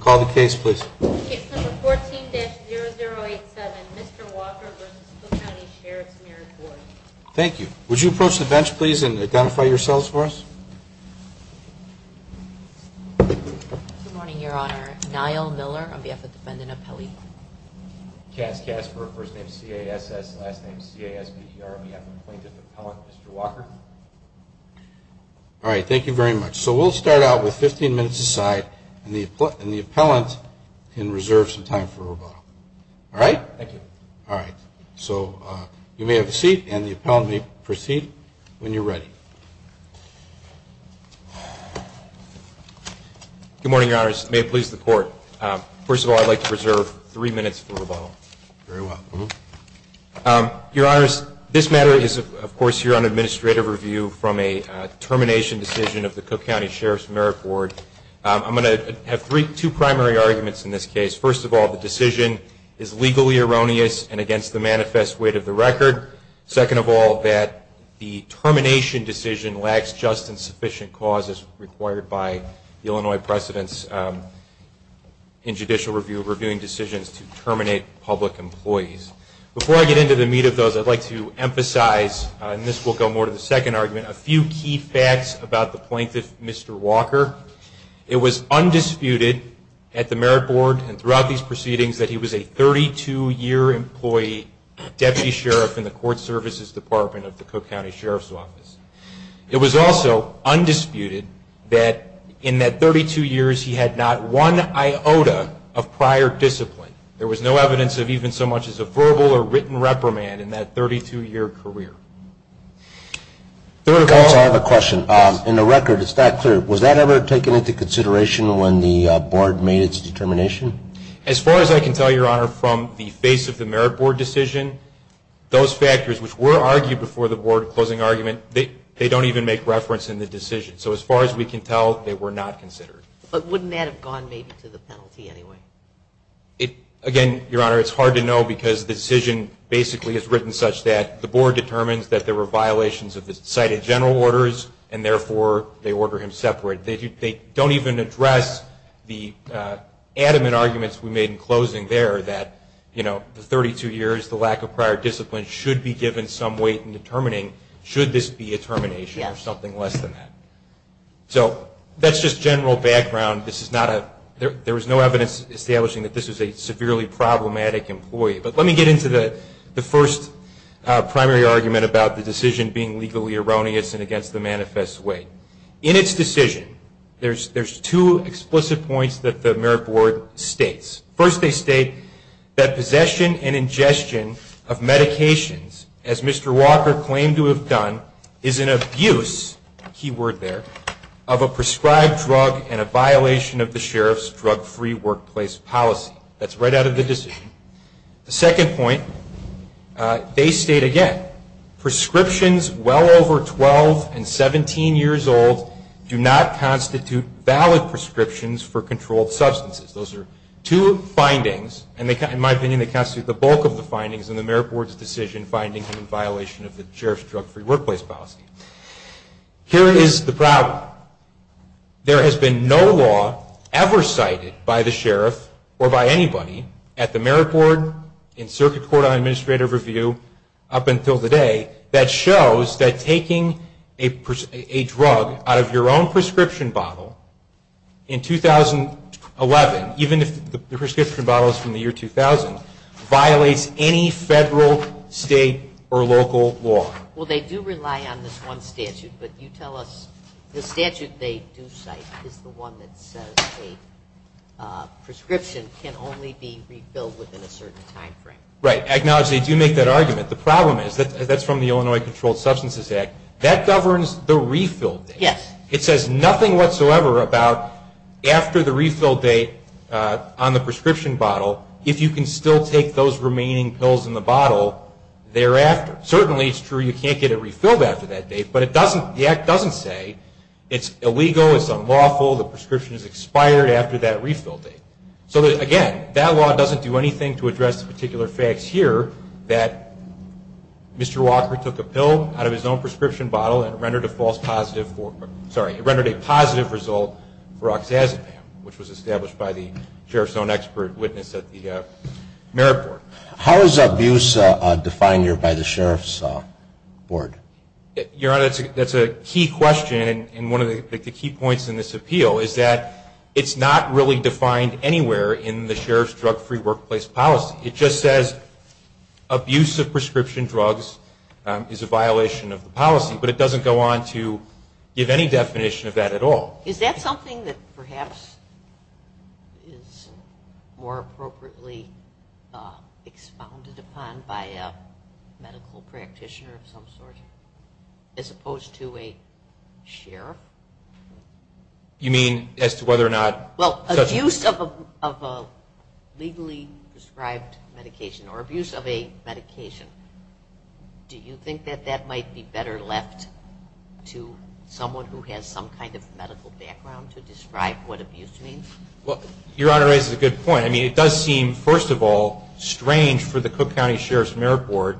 Call the case please. Case number 14-0087, Mr. Walker v. Cook County Sheriff's Merit Board. Thank you. Would you approach the bench please and identify yourselves for us? Good morning, Your Honor. Niall Miller on behalf of Defendant Appellee. Cass Casper, first name CASS, last name CASPTR, on behalf of Plaintiff Appellant Mr. Walker. All right. Thank you very much. So we'll start out with 15 minutes aside and the appellant can reserve some time for rebuttal. All right? Thank you. All right. So you may have a seat and the appellant may proceed when you're ready. Good morning, Your Honors. May it please the Court. First of all, I'd like to reserve three minutes for rebuttal. Very well. Your Honors, this matter is, of course, here on administrative review from a termination decision of the Cook County Sheriff's Merit Board. I'm going to have two primary arguments in this case. First of all, the decision is legally erroneous and against the manifest weight of the record. Second of all, that the termination decision lacks just and sufficient cause as required by the Illinois precedents in judicial review reviewing decisions to terminate public employees. Before I get into the meat of those, I'd like to emphasize, and this will go more to the second argument, a few key facts about the plaintiff, Mr. Walker. It was undisputed at the Merit Board and throughout these proceedings that he was a 32-year employee deputy sheriff in the Court Services Department of the Cook County Sheriff's Office. It was also undisputed that in that 32 years, he had not one iota of prior discipline. There was no evidence of even so much as a verbal or written reprimand in that 32-year career. I have a question. In the record, it's not clear. Was that ever taken into consideration when the board made its determination? As far as I can tell, Your Honor, from the face of the Merit Board decision, those factors which were argued before the board closing argument, they don't even make reference in the decision. So as far as we can tell, they were not considered. But wouldn't that have gone maybe to the penalty anyway? Again, Your Honor, it's hard to know because the decision basically is written such that the board determines that there were violations of the cited general orders, and therefore, they order him separate. They don't even address the adamant arguments we made in closing there that the 32 years, the lack of prior discipline, should be given some weight in determining should this be a termination or something less than that. So that's just general background. There was no evidence establishing that this was a severely problematic employee. But let me get into the first primary argument about the decision being legally erroneous and against the manifest weight. In its decision, there's two explicit points that the Merit Board states. First, they state that possession and ingestion of medications, as Mr. Walker claimed to have done, is an abuse, key word there, of a prescribed drug and a violation of the sheriff's drug-free workplace policy. That's right out of the decision. The second point, they state again, prescriptions well over 12 and 17 years old do not constitute valid prescriptions for controlled substances. Those are two findings, and in my opinion, they constitute the bulk of the findings in the Merit Board's decision finding him in violation of the sheriff's drug-free workplace policy. Here is the problem. There has been no law ever cited by the sheriff or by anybody at the Merit Board in circuit court on administrative review up until today that shows that taking a drug out of your own prescription bottle in 2011, even if the prescription bottle is from the year 2000, violates any federal, state, or local law. Well, they do rely on this one statute, but you tell us the statute they do cite is the one that says a prescription can only be re-billed within a certain time frame. I acknowledge they do make that argument. The problem is that's from the Illinois Controlled Substances Act. That governs the refill date. Yes. It says nothing whatsoever about after the refill date on the prescription bottle if you can still take those remaining pills in the bottle thereafter. Certainly it's true you can't get it refilled after that date, but the Act doesn't say it's illegal, it's unlawful, the prescription is expired after that refill date. So again, that law doesn't do anything to address the particular facts here that Mr. Walker took a pill out of his own prescription bottle and rendered a false positive for, sorry, rendered a positive result for oxazepam, which was established by the sheriff's own expert witness at the Merit Board. How is abuse defined here by the sheriff's board? Your Honor, that's a key question and one of the key points in this appeal is that it's not really defined anywhere in the sheriff's drug-free workplace policy. It just says abuse of prescription drugs is a violation of the policy, but it doesn't go on to give any definition of that at all. Is that something that perhaps is more appropriately expounded upon by a medical practitioner of some sort as opposed to a sheriff? You mean as to whether or not... Well, abuse of a legally prescribed medication or abuse of a medication, do you think that that might be better left to someone who has some kind of medical background to describe what abuse means? Well, Your Honor raises a good point. I mean, it does seem, first of all, strange for the Cook County Sheriff's Merit Board,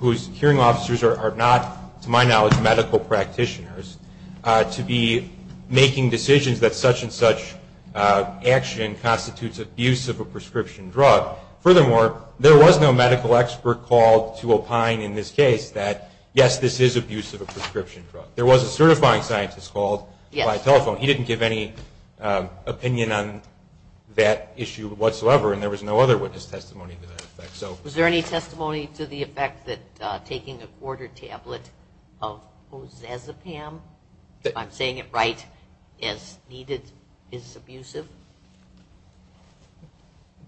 whose hearing officers are not, to my knowledge, medical practitioners, to be making decisions that such and such action constitutes abuse of a prescription drug. Furthermore, there was no medical expert called to opine in this case that, yes, this is abuse of a prescription drug. There was a certifying scientist called by telephone. He didn't give any opinion on that issue whatsoever, and there was no other witness testimony to that effect. Was there any testimony to the effect that taking a quarter tablet of Ozazepam, if I'm saying it right, is abusive?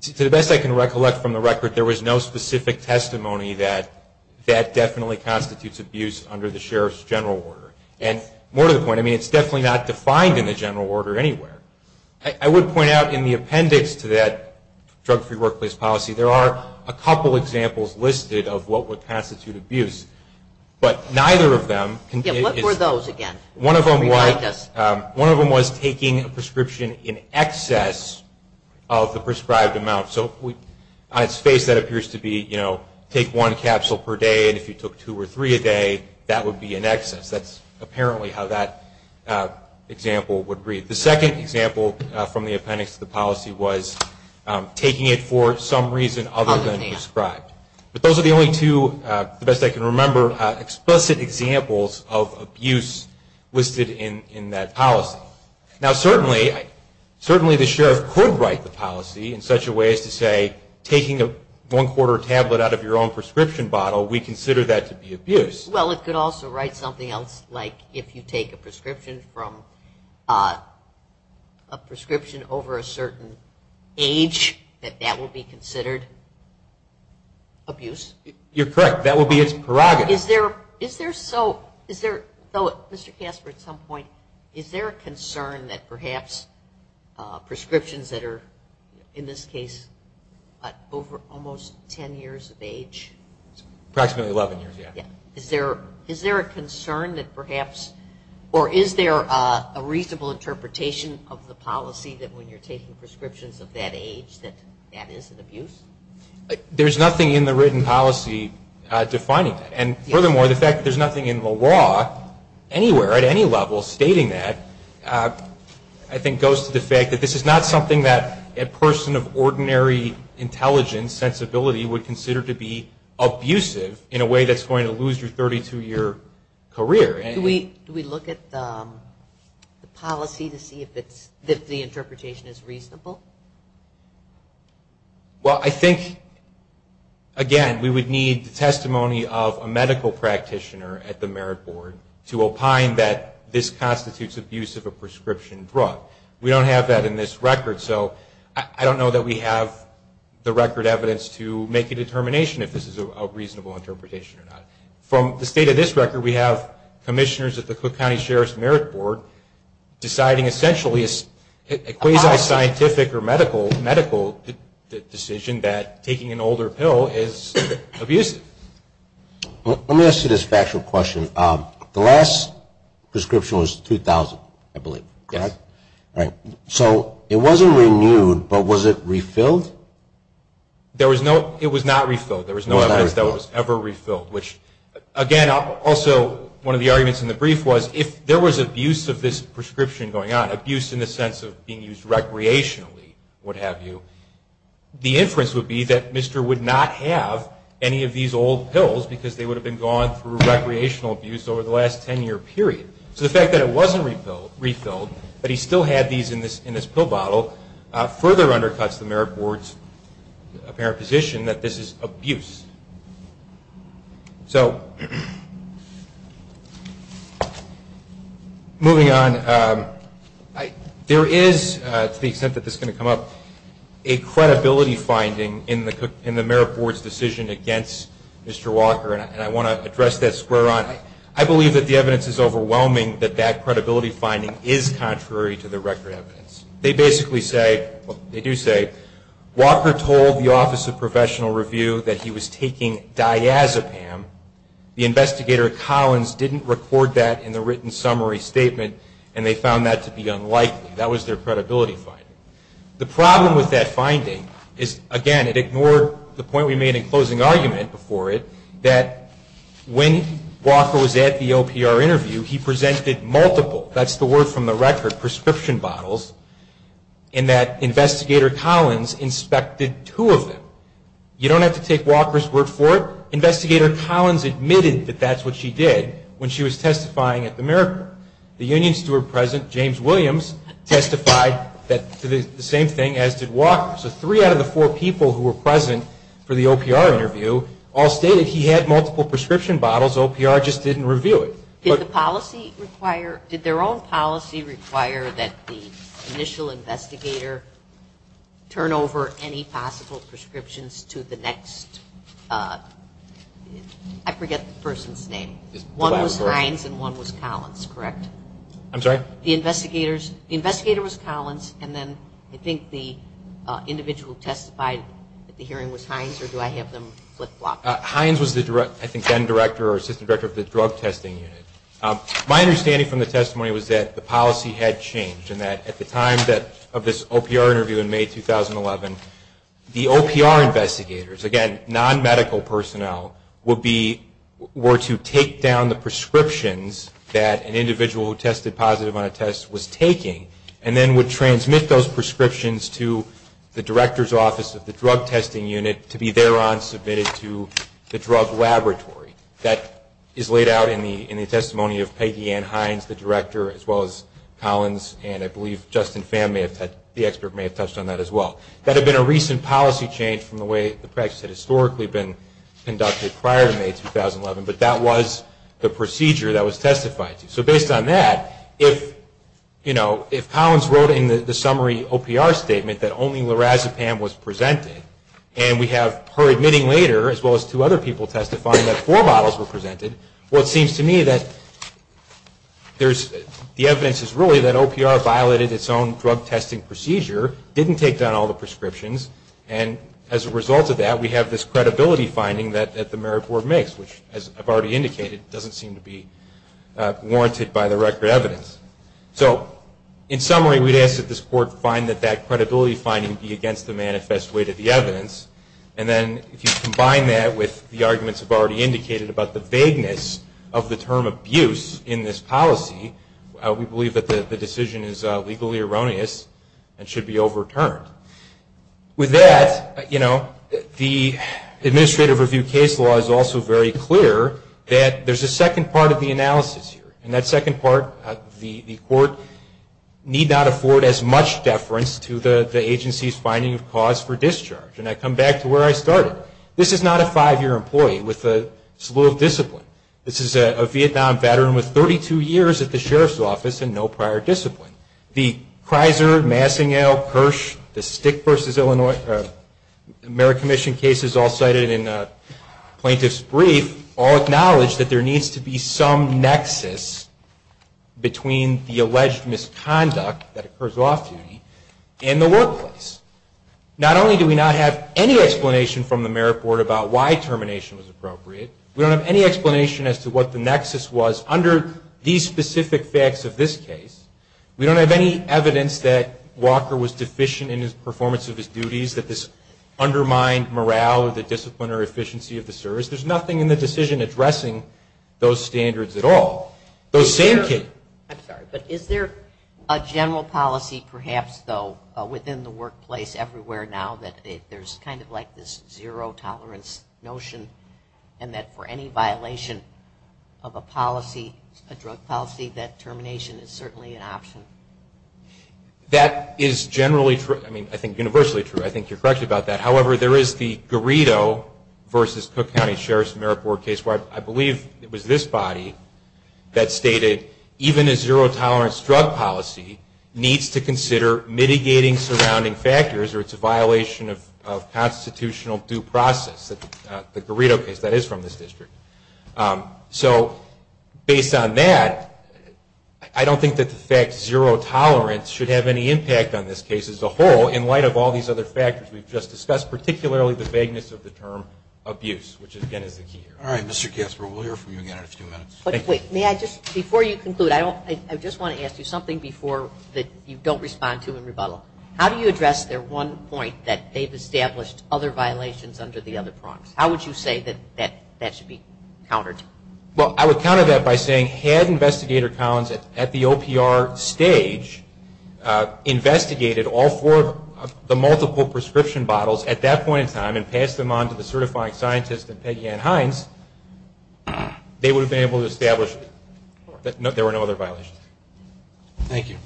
To the best I can recollect from the record, there was no specific testimony that that definitely constitutes abuse under the sheriff's general order. And more to the point, I mean, it's definitely not defined in the general order anywhere. I would point out in the appendix to that drug-free workplace policy, there are a couple examples listed of what would constitute abuse, but neither of them... Yeah, what were those again? One of them was taking a prescription in excess of the prescribed amount. So on its face that appears to be, you know, take one capsule per day, and if you took two or three a day, that would be in excess. That's apparently how that example would read. The second example from the appendix to the policy was taking it for some reason other than prescribed. But those are the only two, to the best I can remember, explicit examples of abuse listed in that policy. Now certainly, certainly the sheriff could write the policy in such a way as to say, taking a one-quarter tablet out of your own prescription bottle, we consider that to be abuse. Well, it could also write something else like, if you take a prescription from a prescription over a certain age, that that would be considered abuse. You're correct. That would be its prerogative. Is there so, is there, though, Mr. Casper, at some point, is there a concern that perhaps prescriptions that are, in this case, over almost 10 years of age? Approximately 11 years, yeah. Is there a concern that perhaps, or is there a reasonable interpretation of the policy that when you're taking prescriptions of that age, that that is an abuse? There's nothing in the written policy defining that. And furthermore, the fact that there's nothing in the law anywhere, at any level, stating that, I think goes to the fact that this is not something that a person of ordinary intelligence, sensibility, would consider to be abusive in a way that's going to lose your 32-year career. Do we look at the policy to see if the interpretation is reasonable? Well, I think, again, we would need the testimony of a medical practitioner at the merit board to opine that this constitutes abuse of a prescription drug. We don't have that in this record, so I don't know that we have the record evidence to make a determination if this is a reasonable interpretation or not. From the state of this record, we have commissioners at the Cook County Sheriff's Merit Board deciding essentially a quasi-scientific or medical decision that taking an older pill is abusive. Let me ask you this factual question. The last prescription was 2000, I believe, correct? Yes. Right. So it wasn't renewed, but was it refilled? It was not refilled. There was no evidence that it was ever refilled, which, again, also one of the arguments in the brief was if there was abuse of this prescription going on, abuse in the sense of being used recreationally, what have you, the inference would be that Mr. would not have any of these old pills because they would have been gone through recreational abuse over the last 10-year period. So the fact that it wasn't refilled, but he still had these in his pill bottle, further undercuts the Merit Board's apparent position that this is abuse. Moving on, there is, to the extent that this is going to come up, a credibility finding in the Merit Board's decision against Mr. Walker, and I want to address that square on. I believe that the evidence is overwhelming that that credibility finding is contrary to the record evidence. They basically say, they do say, Walker told the Office of Professional Review that he was taking diazepam. The investigator, Collins, didn't record that in the written summary statement, and they found that to be unlikely. That was their credibility finding. The problem with that finding is, again, it ignored the point we made in closing argument before it, that when Walker was at the OPR interview, he presented multiple, that's the word from the record, prescription bottles, and that investigator Collins inspected two of them. You don't have to take Walker's word for it. Investigator Collins admitted that that's what she did when she was testifying at the Merit Board. The union steward present, James Williams, testified to the same thing as did Walker. So three out of the four people who were present for the OPR interview all stated he had multiple prescription bottles. OPR just didn't review it. Did the policy require, did their own policy require that the initial investigator turn over any possible prescriptions to the next, I forget the person's name. One was Hines and one was Collins, correct? I'm sorry? The investigator was Collins, and then I think the individual who testified at the hearing was Hines, or do I have them flip-flopped? Hines was, I think, then director or assistant director of the drug testing unit. My understanding from the testimony was that the policy had changed, and that at the time of this OPR interview in May 2011, the OPR investigators, again, non-medical personnel, would be, were to take down the prescriptions that an individual who tested positive on a test was taking, and then would transmit those prescriptions to the director's office of the drug testing unit to be thereon submitted to the drug laboratory. That is laid out in the testimony of Peggy Ann Hines, the director, as well as Collins, and I believe Justin Pham, the expert, may have touched on that as well. That had been a recent policy change from the way the practice had historically been conducted prior to May 2011, but that was the procedure that was testified to. So based on that, if, you know, if Collins wrote in the summary OPR statement that only lorazepam was presented, and we have her admitting later, as well as two other people testifying that four bottles were presented, well, it seems to me that there's, the evidence is really that OPR violated its own drug testing procedure, didn't take down all the prescriptions, and as a result of that, we have this credibility finding that the merit board makes, which, as I've already indicated, doesn't seem to be warranted by the record evidence. So in summary, we'd ask that this court find that that credibility finding be against the manifest weight of the evidence, and then if you combine that with the arguments I've already indicated about the vagueness of the term abuse in this policy, we believe that the decision is legally erroneous and should be overturned. With that, you know, the administrative review case law is also very clear that there's a second part of the analysis here, and that second part, the court need not afford as much deference to the agency's finding of cause for discharge, and I come back to where I started. This is not a five-year employee with a slew of discipline. This is a Vietnam veteran with 32 years at the sheriff's office and no prior discipline. The Kreiser, Massingale, Kirsch, the Stick v. Illinois Merit Commission cases all cited in the plaintiff's brief all acknowledge that there needs to be some nexus between the alleged misconduct that occurs off-duty and the workplace. Not only do we not have any explanation from the merit board about why termination was appropriate, we don't have any explanation as to what the nexus was under these specific facts of this case. We don't have any evidence that Walker was deficient in his performance of his duties, that this undermined morale or the discipline or efficiency of the service. There's nothing in the decision addressing those standards at all. I'm sorry, but is there a general policy perhaps, though, within the workplace everywhere now that there's kind of like this zero-tolerance notion and that for any violation of a policy, a drug policy, that termination is certainly an option? That is generally true. I mean, I think universally true. I think you're correct about that. However, there is the Garrido v. Cook County Sheriff's Merit Board case where I believe it was this body that stated even a constitutional due process, the Garrido case, that is from this district. So based on that, I don't think that the fact zero-tolerance should have any impact on this case as a whole in light of all these other factors we've just discussed, particularly the vagueness of the term abuse, which again is the key here. All right, Mr. Kasper, we'll hear from you again in a few minutes. Thank you. Before you conclude, I just want to ask you something before you don't respond to in rebuttal. How do you address their one point that they've established other violations under the other prongs? How would you say that that should be countered? Well, I would counter that by saying had Investigator Collins at the OPR stage investigated all four of the multiple prescription bottles at that point in time and passed them on to the certifying scientist and Peggy Ann Hines, they would have been able to establish that there were no other violations. Thank you.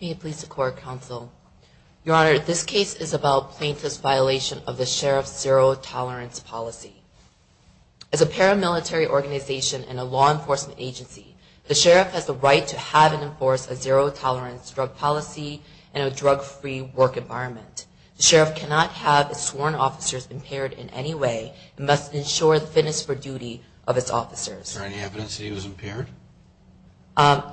May it please the Court, Counsel. Your Honor, this case is about plaintiff's violation of the Sheriff's zero-tolerance policy. As a paramilitary organization and a law enforcement agency, the Sheriff has the right to have and enforce a zero-tolerance drug policy and a drug-free work environment. The Sheriff cannot have his sworn officers impaired in any way and must ensure the fitness for duty of his officers. Is there any evidence that he was impaired?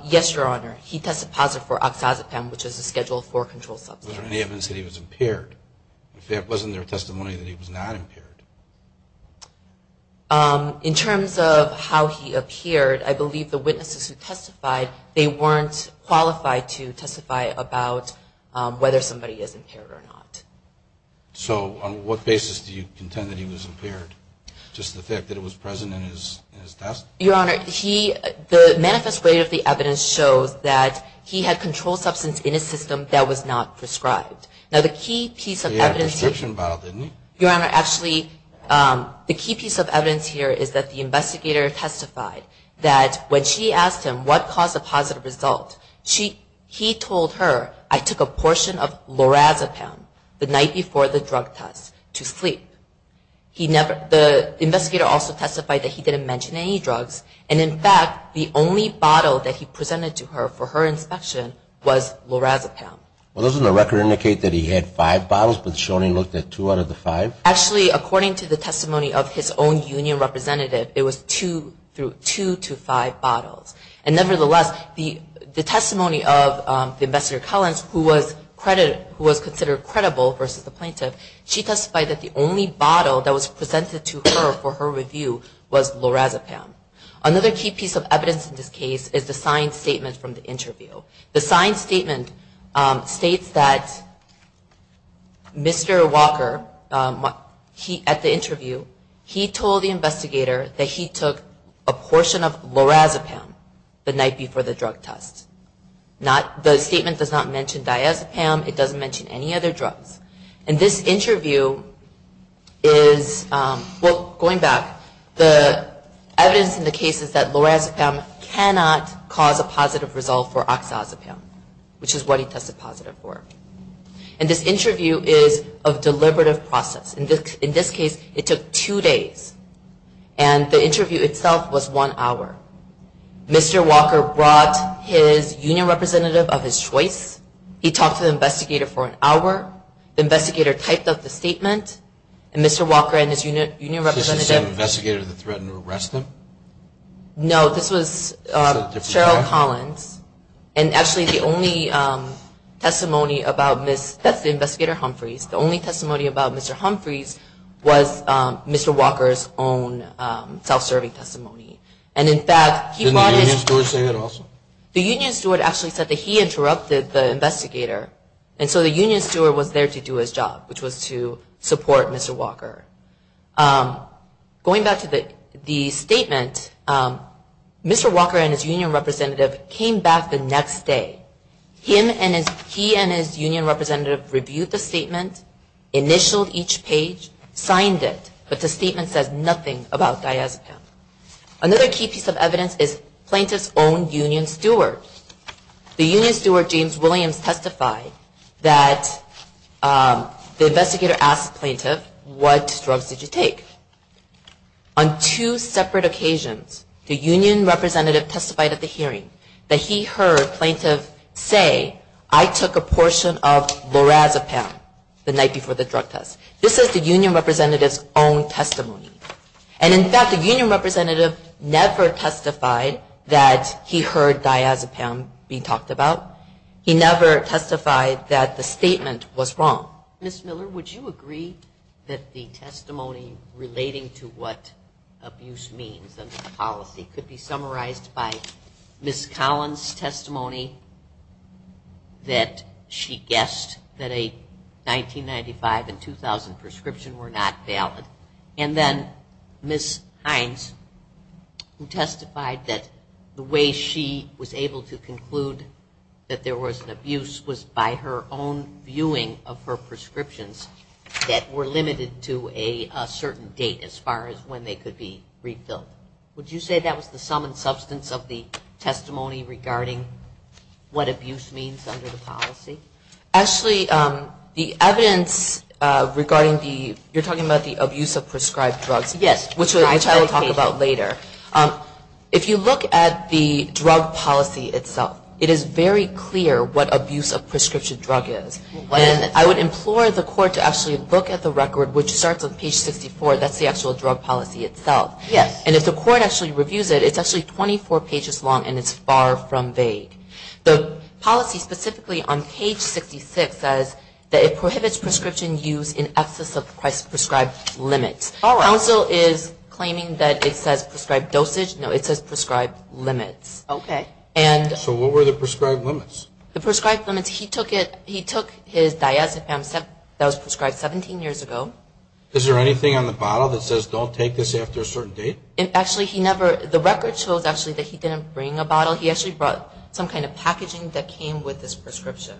Yes, Your Honor. He tested positive for oxazepam, which is a Schedule IV control substance. Was there any evidence that he was impaired? If there wasn't their testimony that he was not impaired? In terms of how he appeared, I believe the witnesses who testified, they weren't qualified to testify about whether somebody is impaired or not. So on what basis do you contend that he was impaired? Just the fact that it was present in his test? Your Honor, the manifest way of the evidence shows that he had control substance in his system that was not prescribed. Now the key piece of evidence... He had a prescription bottle, didn't he? Your Honor, actually the key piece of evidence here is that the investigator testified that when she asked him what caused the positive result, he told her, I took a portion of lorazepam the night before the drug test to sleep. The investigator also testified that he didn't mention any drugs, and in fact the only bottle that he presented to her for her inspection was lorazepam. Well, doesn't the record indicate that he had five bottles, but Shoney looked at two out of the five? Actually, according to the testimony of his own union representative, it was two to five bottles. And nevertheless, the testimony of the Investigator Collins, who was considered credible versus the plaintiff, she testified that the only bottle that was presented to her for her review was lorazepam. Another key piece of evidence in this case is the signed statement from the interview. The signed statement states that Mr. Walker, at the interview, he told the investigator that he took a portion of lorazepam the night before the drug test. The statement does not mention diazepam, it doesn't mention any other drugs. And this interview is... Well, going back, the evidence in the case is that lorazepam cannot cause a positive result for oxazepam, which is what he tested positive for. And this interview is a deliberative process. In this case, it took two days, and the interview itself was one hour. Mr. Walker brought his union representative of his choice, he talked to the investigator for an hour, the investigator typed up the statement, and Mr. Walker and his union representative... So this is the investigator that threatened to arrest him? No, this was Cheryl Collins. And actually, the only testimony about Mr. Humphreys, the only testimony about Mr. Humphreys, was Mr. Walker's own self-serving testimony. And in fact, he brought his... Didn't the union steward say that also? The union steward actually said that he interrupted the investigator. And so the union steward was there to do his job, which was to support Mr. Walker. Going back to the statement, Mr. Walker and his union representative came back the next day. He and his union representative reviewed the statement, initialed each page, signed it, but the statement says nothing about diazepam. Another key piece of evidence is plaintiff's own union steward. The union steward, James Williams, testified that the investigator asked the plaintiff, what drugs did you take? On two separate occasions, the union representative testified at the hearing that he heard plaintiff say, I took a portion of lorazepam the night before the drug test. This is the union representative's own testimony. And in fact, the union representative never testified that he heard diazepam being talked about. He never testified that the statement was wrong. Ms. Miller, would you agree that the testimony relating to what abuse means under the policy could be summarized by Ms. Collins' testimony that she guessed that a 1995 and 2000 prescription were not valid, and then Ms. Hines, who testified that the way she was able to conclude that there was an abuse was by her own viewing of her prescriptions that were limited to a certain date as far as when they could be refilled. Would you say that was the sum and substance of the testimony regarding what abuse means under the policy? Actually, the evidence regarding the, you're talking about the abuse of prescribed drugs. Yes. Which I will talk about later. If you look at the drug policy itself, it is very clear what abuse of prescription drug is. And I would implore the court to actually look at the record, which starts on page 64. That's the actual drug policy itself. Yes. And if the court actually reviews it, it's actually 24 pages long, and it's far from vague. The policy specifically on page 66 says that it prohibits prescription use in excess of prescribed limits. Counsel is claiming that it says prescribed dosage. No, it says prescribed limits. Okay. So what were the prescribed limits? The prescribed limits, he took his diazepam that was prescribed 17 years ago. Is there anything on the bottle that says don't take this after a certain date? Actually, he never, the record shows actually that he didn't bring a bottle. He actually brought some kind of packaging that came with his prescription.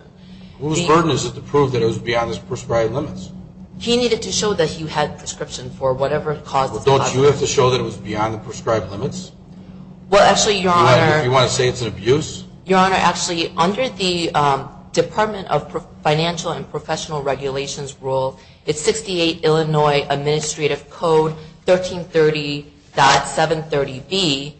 Whose burden is it to prove that it was beyond his prescribed limits? He needed to show that he had prescription for whatever caused the problem. Well, don't you have to show that it was beyond the prescribed limits? Well, actually, Your Honor. You want to say it's an abuse? Your Honor, actually, under the Department of Financial and Professional Regulations rule, it's 68 Illinois Administrative Code 1330.730B,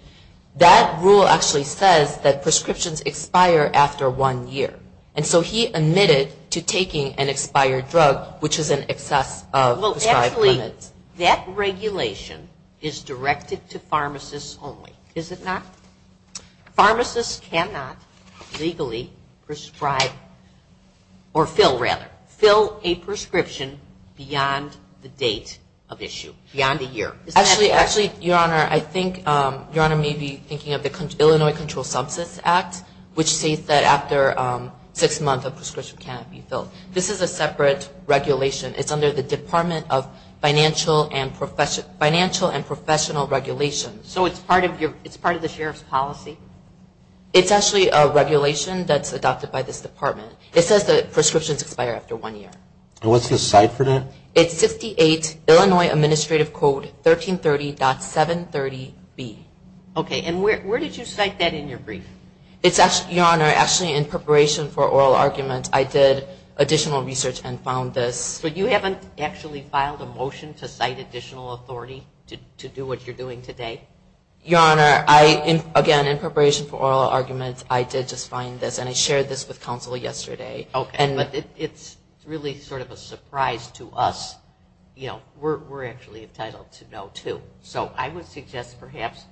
that rule actually says that prescriptions expire after one year. And so he admitted to taking an expired drug, which is in excess of prescribed limits. Well, actually, that regulation is directed to pharmacists only, is it not? Pharmacists cannot legally prescribe, or fill rather, fill a prescription beyond the date of issue, beyond a year. Actually, Your Honor, I think Your Honor may be thinking of the Illinois Controlled Substance Act, which states that after six months a prescription cannot be filled. This is a separate regulation. It's under the Department of Financial and Professional Regulations. So it's part of the sheriff's policy? It's actually a regulation that's adopted by this department. It says that prescriptions expire after one year. And what's the site for that? It's 68 Illinois Administrative Code 1330.730B. Okay, and where did you cite that in your brief? Your Honor, actually, in preparation for oral argument, I did additional research and found this. But you haven't actually filed a motion to cite additional authority to do what you're doing today? Your Honor, again, in preparation for oral argument, I did just find this, and I shared this with counsel yesterday. Okay, but it's really sort of a surprise to us. You know, we're actually entitled to know, too. So I would suggest, perhaps,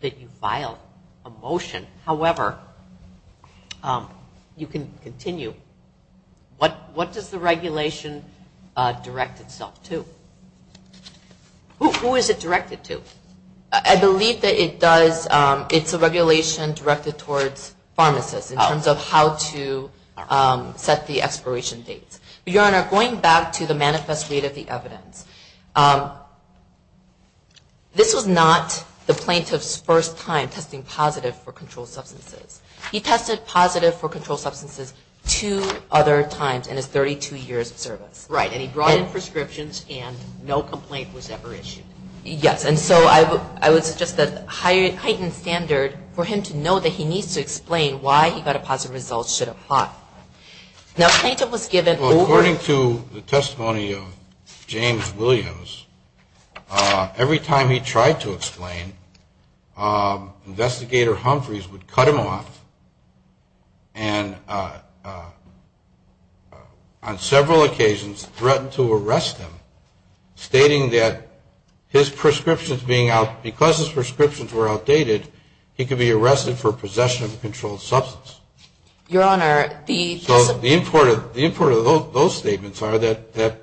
that you file a motion. However, you can continue. What does the regulation direct itself to? Who is it directed to? I believe that it's a regulation directed towards pharmacists in terms of how to set the expiration dates. Your Honor, going back to the manifest read of the evidence, this was not the plaintiff's first time testing positive for controlled substances. He tested positive for controlled substances two other times in his 32 years of service. Right, and he brought in prescriptions, and no complaint was ever issued. Yes, and so I would suggest a heightened standard for him to know that he needs to explain why he got a positive result should apply. According to the testimony of James Williams, every time he tried to explain, Investigator Humphreys would cut him off and on several occasions threatened to arrest him, stating that because his prescriptions were outdated, he could be arrested for possession of a controlled substance. Your Honor, the So the import of those statements are that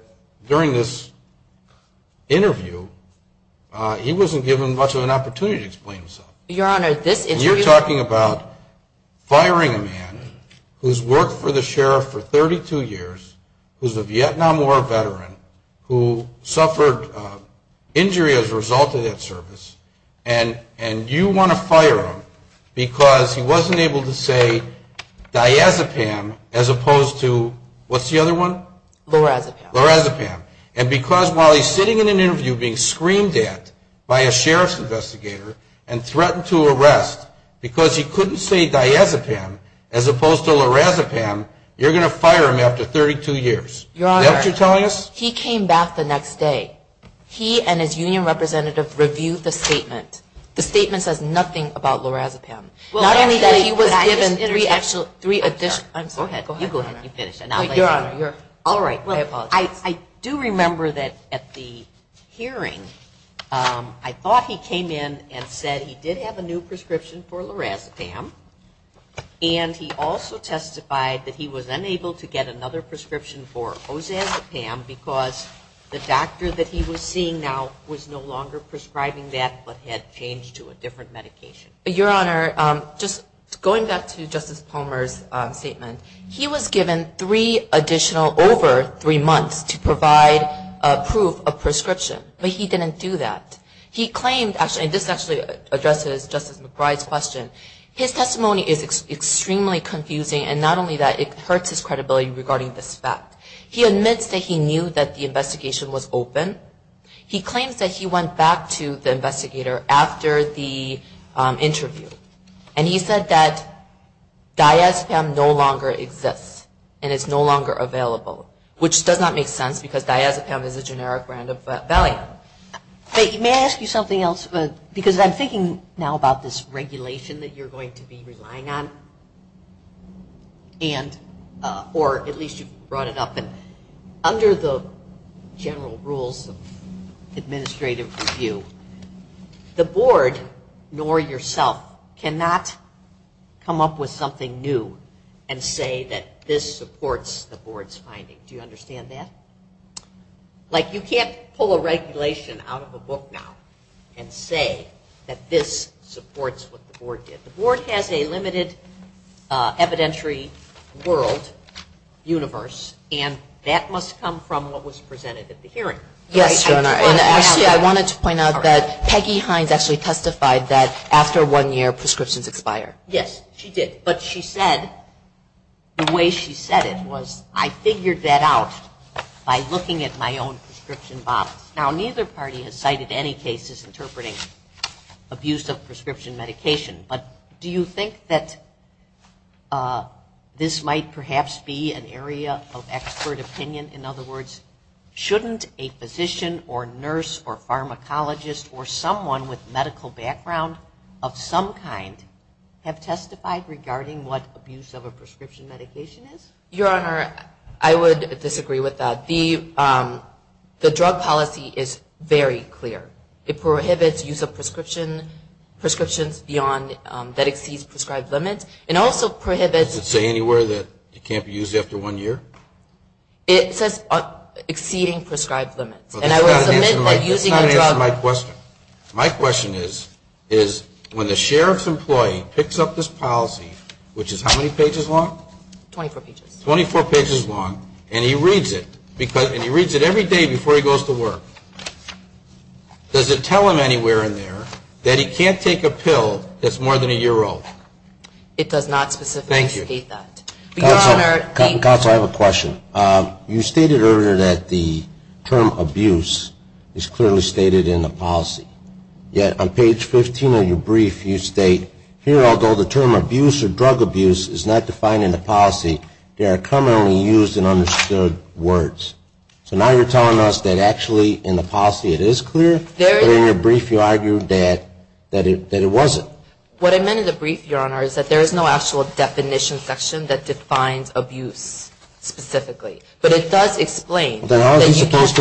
during this interview, he wasn't given much of an opportunity to explain himself. Your Honor, this interview You're talking about firing a man who's worked for the sheriff for 32 years, who's a Vietnam War veteran, who suffered injury as a result of that service, and you want to fire him because he wasn't able to say, Diazepam, as opposed to, what's the other one? Lorazepam. And because while he's sitting in an interview being screamed at by a sheriff's investigator and threatened to arrest, because he couldn't say Diazepam as opposed to Lorazepam, you're going to fire him after 32 years. Your Honor, he came back the next day. He and his union representative reviewed the statement. The statement says nothing about Lorazepam. Not only that he was given three additional I'm sorry. Go ahead. You go ahead. You finish. Your Honor, your All right. I do remember that at the hearing, I thought he came in and said he did have a new prescription for Lorazepam, and he also testified that he was unable to get another prescription for Ozazepam because the doctor that he was seeing now was no longer prescribing that but had changed to a different medication. Your Honor, just going back to Justice Palmer's statement, he was given three additional, over three months, to provide proof of prescription, but he didn't do that. He claimed, and this actually addresses Justice McBride's question. His testimony is extremely confusing, and not only that, it hurts his credibility regarding this fact. He admits that he knew that the investigation was open. He claims that he went back to the investigator after the interview, and he said that Diazepam no longer exists, and it's no longer available, which does not make sense because Diazepam is a generic brand of Valium. May I ask you something else? Because I'm thinking now about this regulation that you're going to be relying on, or at least you brought it up. Under the general rules of administrative review, the board, nor yourself, cannot come up with something new and say that this supports the board's finding. Do you understand that? Like, you can't pull a regulation out of a book now and say that this supports what the board did. The board has a limited evidentiary world, universe, and that must come from what was presented at the hearing. Yes, Your Honor, and actually I wanted to point out that Peggy Hines actually testified that after one year, prescriptions expire. Yes, she did, but she said, the way she said it was, I figured that out by looking at my own prescription bottles. Now, neither party has cited any cases interpreting abuse of prescription medication, but do you think that this might perhaps be an area of expert opinion? In other words, shouldn't a physician or nurse or pharmacologist or someone with medical background of some kind have testified regarding what abuse of a prescription medication is? Your Honor, I would disagree with that. The drug policy is very clear. It prohibits use of prescriptions beyond, that exceeds prescribed limits, and also prohibits. Does it say anywhere that it can't be used after one year? It says exceeding prescribed limits, and I would submit that using a drug. That's not an answer to my question. My question is, when the sheriff's employee picks up this policy, which is how many pages long? 24 pages. 24 pages long, and he reads it, and he reads it every day before he goes to work. Does it tell him anywhere in there that he can't take a pill that's more than a year old? It does not specifically state that. Thank you. Your Honor, thank you. Counsel, I have a question. You stated earlier that the term abuse is clearly stated in the policy. Yet on page 15 of your brief you state, here although the term abuse or drug abuse is not defined in the policy, there are commonly used and understood words. So now you're telling us that actually in the policy it is clear, but in your brief you argue that it wasn't. What I meant in the brief, Your Honor, is that there is no actual definition section that defines abuse specifically. But it does explain that you can't.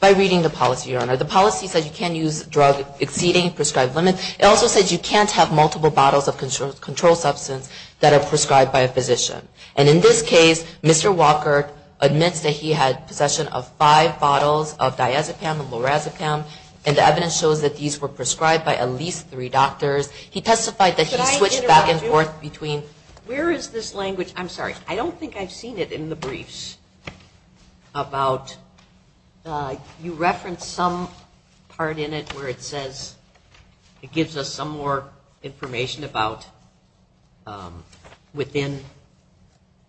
By reading the policy, Your Honor, the policy says you can't use a drug exceeding the prescribed limit. It also says you can't have multiple bottles of controlled substance that are prescribed by a physician. And in this case, Mr. Walker admits that he had possession of five bottles of diazepam and lorazepam, and the evidence shows that these were prescribed by at least three doctors. He testified that he switched back and forth between. Where is this language? I'm sorry. I don't think I've seen it in the briefs about you reference some part in it where it says it gives us some more information about within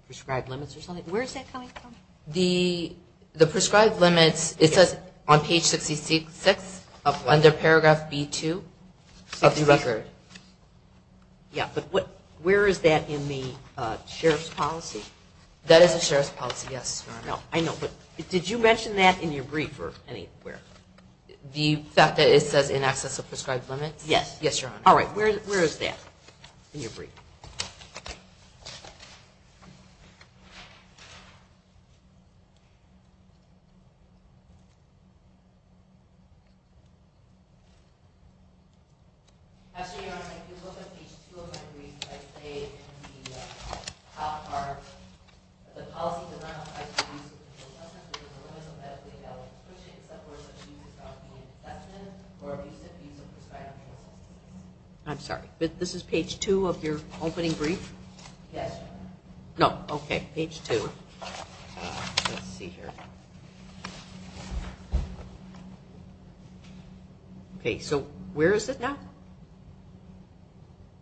prescribed limits or something. Where is that coming from? The prescribed limits, it says on page 66 under paragraph B2 of the record. Yeah, but where is that in the sheriff's policy? That is the sheriff's policy, yes, Your Honor. I know, but did you mention that in your brief or anywhere? The fact that it says in excess of prescribed limits? Yes, Your Honor. All right, where is that in your brief? Actually, Your Honor, if you look at page 2 of my brief, I say in the top part, that the policy does not specify the use of controlled substance, which is the limits of medically-adapted prescription, except where it says use of non-medical substance, or abuse of use of prescribed medical substance. I'm sorry. Yes, Your Honor. Opening brief? Yes, Your Honor. No, okay, page 2. Let's see here. Okay, so where is it now?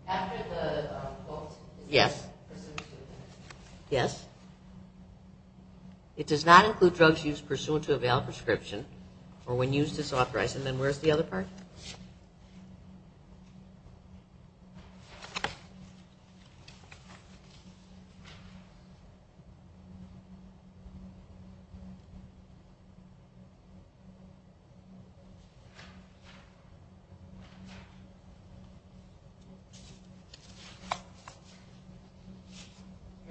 After the quote. Yes. Yes. It does not include drugs used pursuant to a valid prescription or when used disauthorized. And then where's the other part?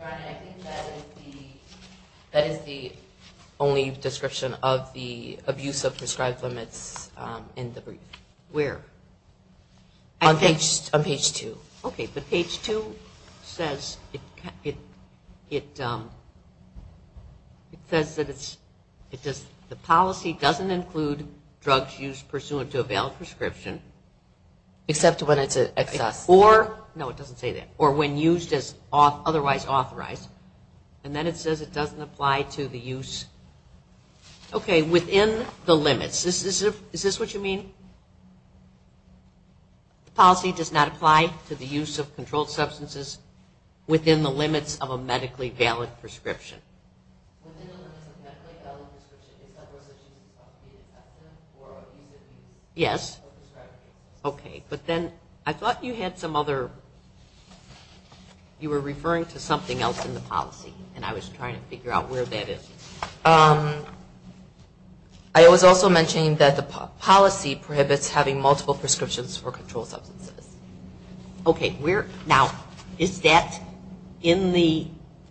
Okay. Your Honor, I think that is the only description of the abuse of prescribed limits in the brief. Where? On page 2. Okay, but page 2 says it says that the policy doesn't include drugs used pursuant to a valid prescription. Except when it's an excess. Or, no, it doesn't say that. Or when used as otherwise authorized. And then it says it doesn't apply to the use, okay, within the limits. Is this what you mean? The policy does not apply to the use of controlled substances within the limits of a medically valid prescription. Yes. Okay, but then I thought you had some other, you were referring to something else in the policy. And I was trying to figure out where that is. I was also mentioning that the policy prohibits having multiple prescriptions for controlled substances. Okay. Now, is that in the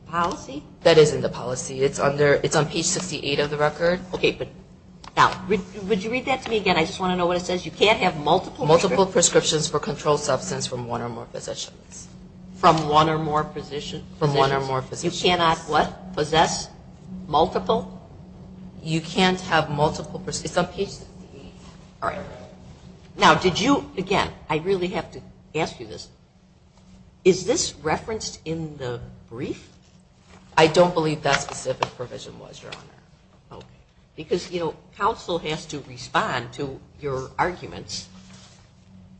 policy? That is in the policy. It's on page 68 of the record. Okay. Now, would you read that to me again? I just want to know what it says. You can't have multiple prescriptions. Multiple prescriptions for controlled substance from one or more physicians. From one or more physicians? From one or more physicians. You cannot what? Possess? Multiple? You can't have multiple prescriptions. It's on page 68. All right. Now, did you, again, I really have to ask you this. Is this referenced in the brief? I don't believe that specific provision was, Your Honor. Okay. Because, you know, counsel has to respond to your arguments,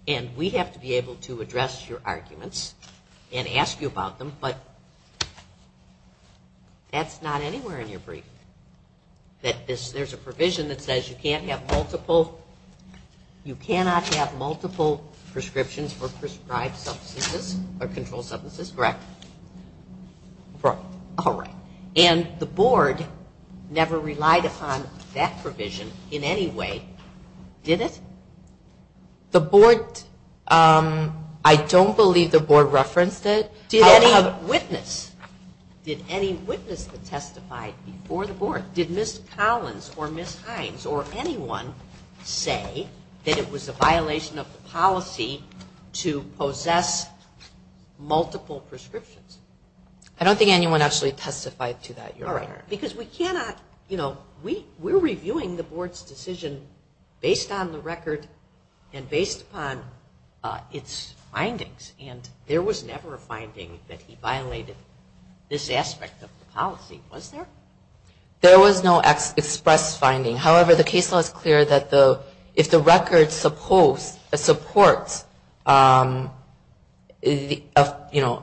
and we have to be able to address your arguments and ask you about them, but that's not anywhere in your brief, that there's a provision that says you can't have multiple, you cannot have multiple prescriptions for prescribed substances or controlled substances? Correct. Correct. All right. And the board never relied upon that provision in any way, did it? The board, I don't believe the board referenced it. Did any witness? Did any witness that testified before the board? Did Ms. Collins or Ms. Hines or anyone say that it was a violation of the policy to possess multiple prescriptions? I don't think anyone actually testified to that, Your Honor. All right. Because we cannot, you know, we're reviewing the board's decision based on the record and based upon its findings, and there was never a finding that he violated this aspect of the policy, was there? There was no express finding. However, the case law is clear that if the record supports, you know,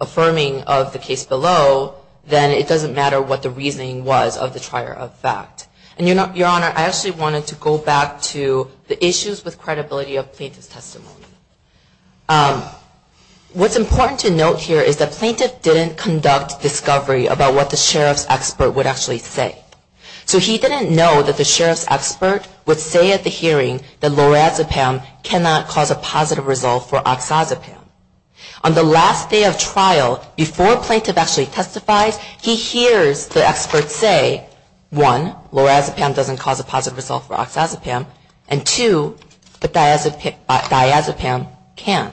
affirming of the case below, then it doesn't matter what the reasoning was of the trier of fact. And, Your Honor, I actually wanted to go back to the issues with credibility of plaintiff's testimony. What's important to note here is that plaintiff didn't conduct discovery about what the sheriff's expert would actually say. So he didn't know that the sheriff's expert would say at the hearing that lorazepam cannot cause a positive result for oxazepam. On the last day of trial, before plaintiff actually testifies, he hears the expert say, one, lorazepam doesn't cause a positive result for oxazepam, and two, diazepam can.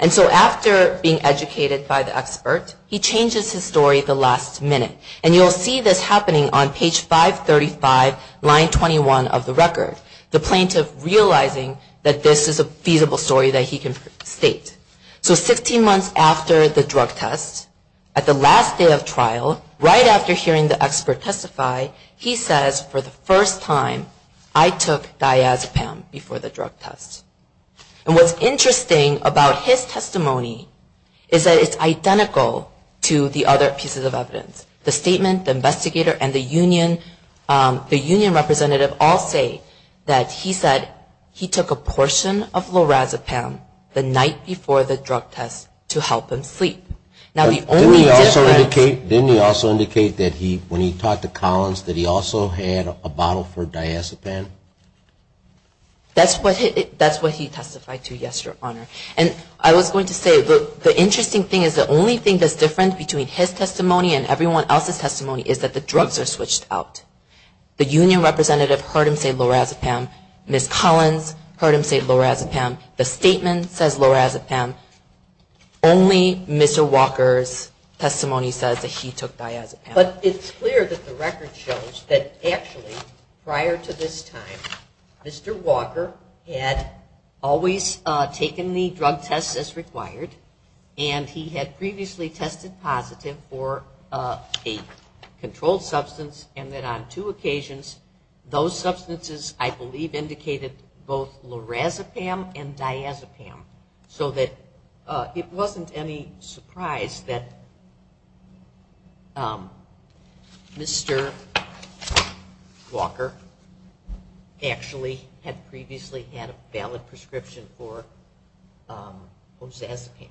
And so after being educated by the expert, he changes his story at the last minute. And you'll see this happening on page 535, line 21 of the record. The plaintiff realizing that this is a feasible story that he can state. So 16 months after the drug test, at the last day of trial, right after hearing the expert testify, he says, for the first time, I took diazepam before the drug test. And what's interesting about his testimony is that it's identical to the other pieces of evidence. The statement, the investigator, and the union representative all say that he said he took a portion of lorazepam the night before the trial for the drug test to help him sleep. Now, the only difference. Didn't he also indicate that when he talked to Collins, that he also had a bottle for diazepam? That's what he testified to, yes, Your Honor. And I was going to say, the interesting thing is the only thing that's different between his testimony and everyone else's testimony is that the drugs are switched out. The union representative heard him say lorazepam. Ms. Collins heard him say lorazepam. The statement says lorazepam. Only Mr. Walker's testimony says that he took diazepam. But it's clear that the record shows that actually, prior to this time, Mr. Walker had always taken the drug test as required, and he had previously tested positive for a controlled substance, and that on two occasions, those substances, I believe, indicated both lorazepam and diazepam, so that it wasn't any surprise that Mr. Walker actually had previously had a valid prescription for lorazepam.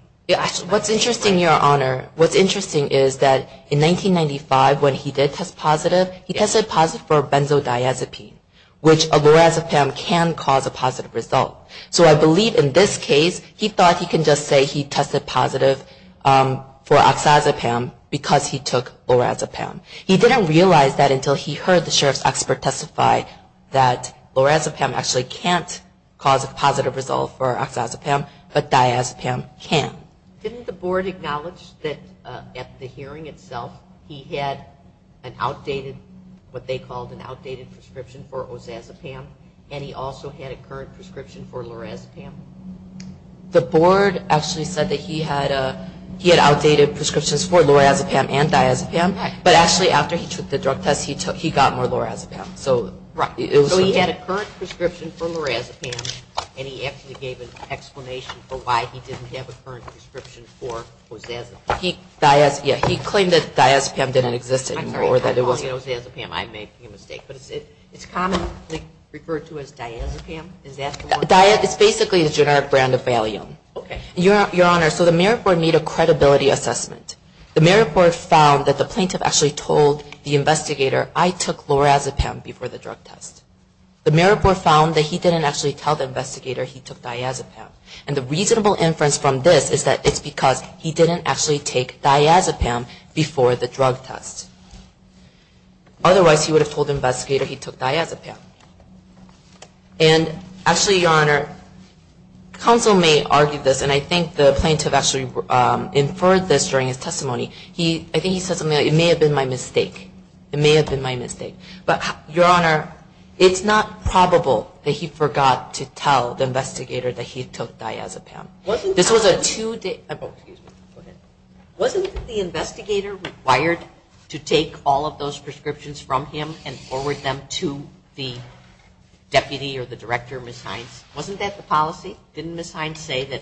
What's interesting, Your Honor, what's interesting is that in 1995, when he did test positive, he tested positive for benzodiazepine, which a lorazepam can cause a positive result. So I believe in this case, he thought he could just say he tested positive for oxazepam because he took lorazepam. He didn't realize that until he heard the sheriff's expert testify that lorazepam actually can't cause a positive result for oxazepam, but diazepam can. Didn't the board acknowledge that at the hearing itself, he had an outdated, what they called an outdated prescription for oxazepam, and he also had a current prescription for lorazepam? The board actually said that he had outdated prescriptions for lorazepam and diazepam, but actually after he took the drug test, he got more lorazepam. So he had a current prescription for lorazepam, and he actually gave an explanation for why he didn't have a current prescription for oxazepam. He claimed that diazepam didn't exist anymore. I'm sorry, I'm calling it oxazepam. I may be mistaken. But it's commonly referred to as diazepam? It's basically a generic brand of Valium. Your Honor, so the merit board made a credibility assessment. The merit board found that the plaintiff actually told the investigator, I took lorazepam before the drug test. The merit board found that he didn't actually tell the investigator he took diazepam, and the reasonable inference from this is that it's because he didn't actually take diazepam before the drug test. Otherwise, he would have told the investigator he took diazepam. And actually, Your Honor, counsel may argue this, and I think the plaintiff actually inferred this during his testimony. I think he said something like, it may have been my mistake. It may have been my mistake. But Your Honor, it's not probable that he forgot to tell the investigator that he took diazepam. This was a two-day, oh, excuse me. Go ahead. Wasn't the investigator required to take all of those prescriptions from him and forward them to the deputy or the director, Ms. Hines? Wasn't that the policy? Didn't Ms. Hines say that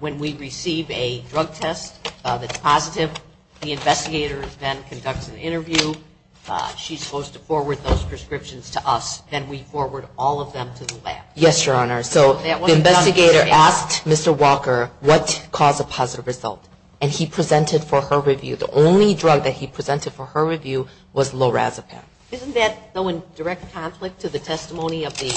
when we receive a drug test that's positive, the investigator then conducts an interview. She's supposed to forward those prescriptions to us. Then we forward all of them to the lab. Yes, Your Honor. So the investigator asked Mr. Walker what caused a positive result, and he presented for her review. The only drug that he presented for her review was lorazepam. Isn't that though in direct conflict to the testimony of the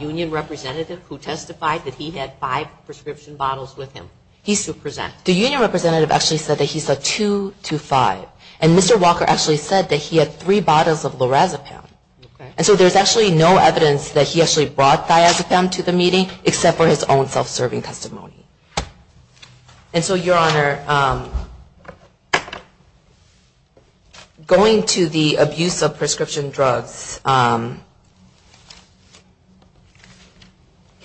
union representative who testified that he had five prescription bottles with him? He's to present. The union representative actually said that he said two to five. And Mr. Walker actually said that he had three bottles of lorazepam. And so there's actually no evidence that he actually brought diazepam to the meeting except for his own self-serving testimony. And so, Your Honor, going to the abuse of prescription drugs,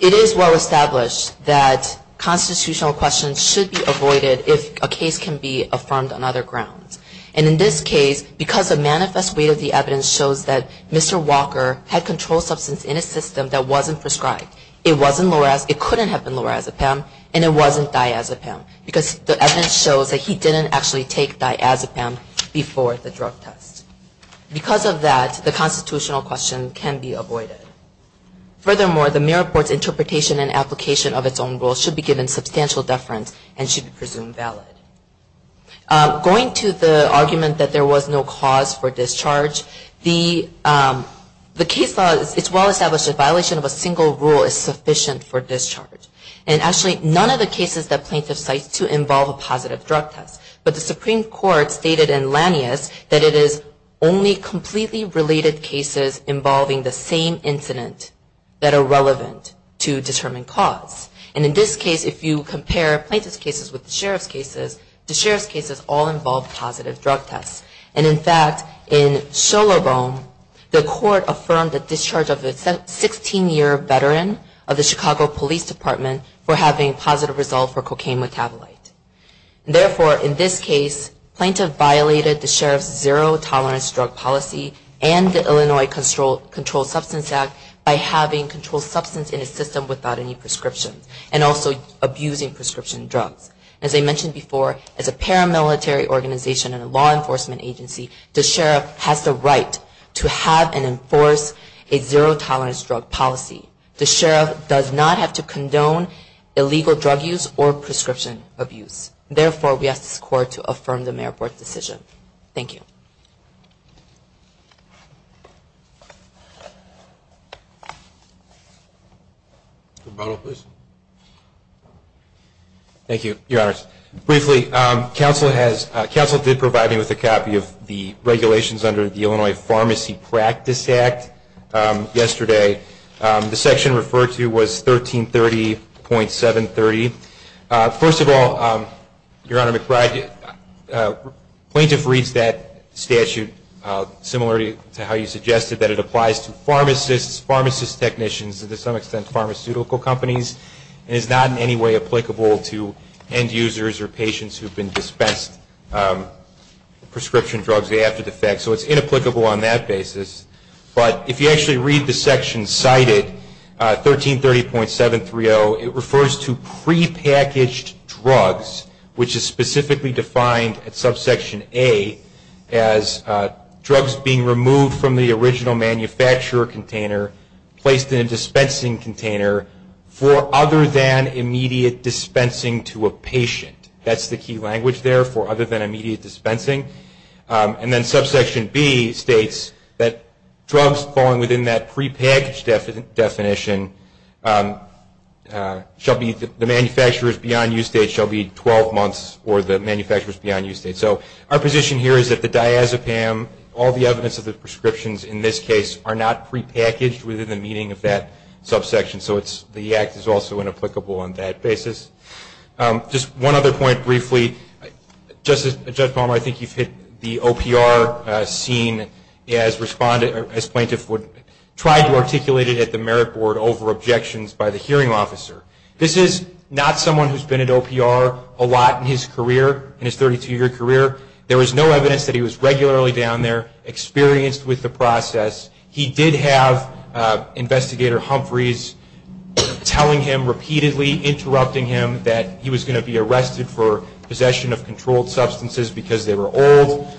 it is well established that constitutional questions should be avoided if a case can be affirmed on other grounds. And in this case, because the manifest weight of the evidence shows that Mr. Walker had controlled substance in a system that wasn't prescribed, it wasn't lorazepam, it couldn't have been lorazepam, and it wasn't diazepam. Because the evidence shows that he didn't actually take diazepam before the drug test. Because of that, the constitutional question can be avoided. Furthermore, the mirror board's interpretation and application of its own rules should be given substantial deference and should be presumed valid. Going to the argument that there was no cause for discharge, is sufficient for discharge. And actually, none of the cases that plaintiff cites do involve a positive drug test. But the Supreme Court stated in Lanius that it is only completely related cases involving the same incident that are relevant to determine cause. And in this case, if you compare plaintiff's cases with the sheriff's cases, the sheriff's cases all involve positive drug tests. And in fact, in Solobong, the court affirmed the discharge of a 16-year veteran of the Chicago Police Department for having a positive result for cocaine metabolite. Therefore, in this case, plaintiff violated the sheriff's zero-tolerance drug policy and the Illinois Controlled Substance Act by having controlled substance in his system without any prescriptions and also abusing prescription drugs. As I mentioned before, as a paramilitary organization and a law enforcement agency, the sheriff has the right to have and enforce a zero-tolerance drug policy. The sheriff does not have to condone illegal drug use or prescription abuse. Therefore, we ask this court to affirm the Mayor's Board decision. Thank you. Thank you, Your Honors. Briefly, counsel did provide me with a copy of the regulations under the Illinois Pharmacy Practice Act yesterday. The section referred to was 1330.730. First of all, Your Honor McBride, plaintiff reads that statute similarly to how you suggested that it applies to pharmacists, pharmacist technicians, and to some extent pharmaceutical companies and is not in any way applicable to end-users or patients who have been dispensed prescription drugs the day after the fact. So it's inapplicable on that basis. But if you actually read the section cited, 1330.730, it refers to prepackaged drugs, which is specifically defined at subsection A as drugs being removed from the original manufacturer container, placed in a dispensing container for other than immediate dispensing to a patient. That's the key language there, for other than immediate dispensing. And then subsection B states that drugs falling within that prepackaged definition shall be the manufacturers beyond use date shall be 12 months or the manufacturers beyond use date. So our position here is that the diazepam, all the evidence of the prescriptions in this case, are not prepackaged within the meaning of that subsection. So the act is also inapplicable on that basis. Just one other point briefly. Judge Palmer, I think you've hit the OPR scene as plaintiff tried to articulate it at the Merit Board over objections by the hearing officer. This is not someone who's been at OPR a lot in his career, in his 32-year career. There was no evidence that he was regularly down there, experienced with the process. He did have Investigator Humphreys telling him repeatedly, interrupting him, that he was going to be arrested for possession of controlled substances because they were old.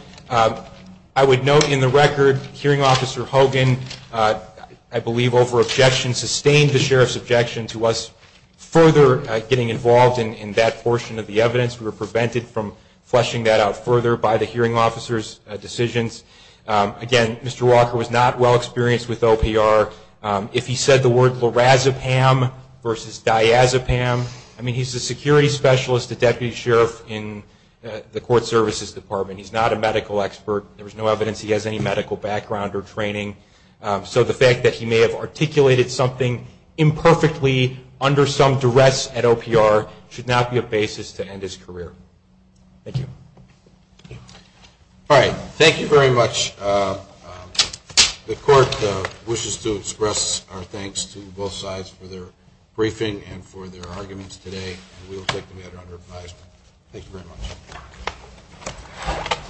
I would note in the record, hearing officer Hogan, I believe over objections, sustained the sheriff's objection to us further getting involved in that portion of the evidence. We were prevented from fleshing that out further by the hearing officer's decisions. Again, Mr. Walker was not well experienced with OPR. If he said the word lorazepam versus diazepam, I mean he's a security specialist, a deputy sheriff in the court services department. He's not a medical expert. There was no evidence he has any medical background or training. So the fact that he may have articulated something imperfectly under some duress at OPR should not be a basis to end his career. Thank you. All right. Thank you very much. The court wishes to express our thanks to both sides for their briefing and for their arguments today. We will take the matter under advisement. Thank you very much.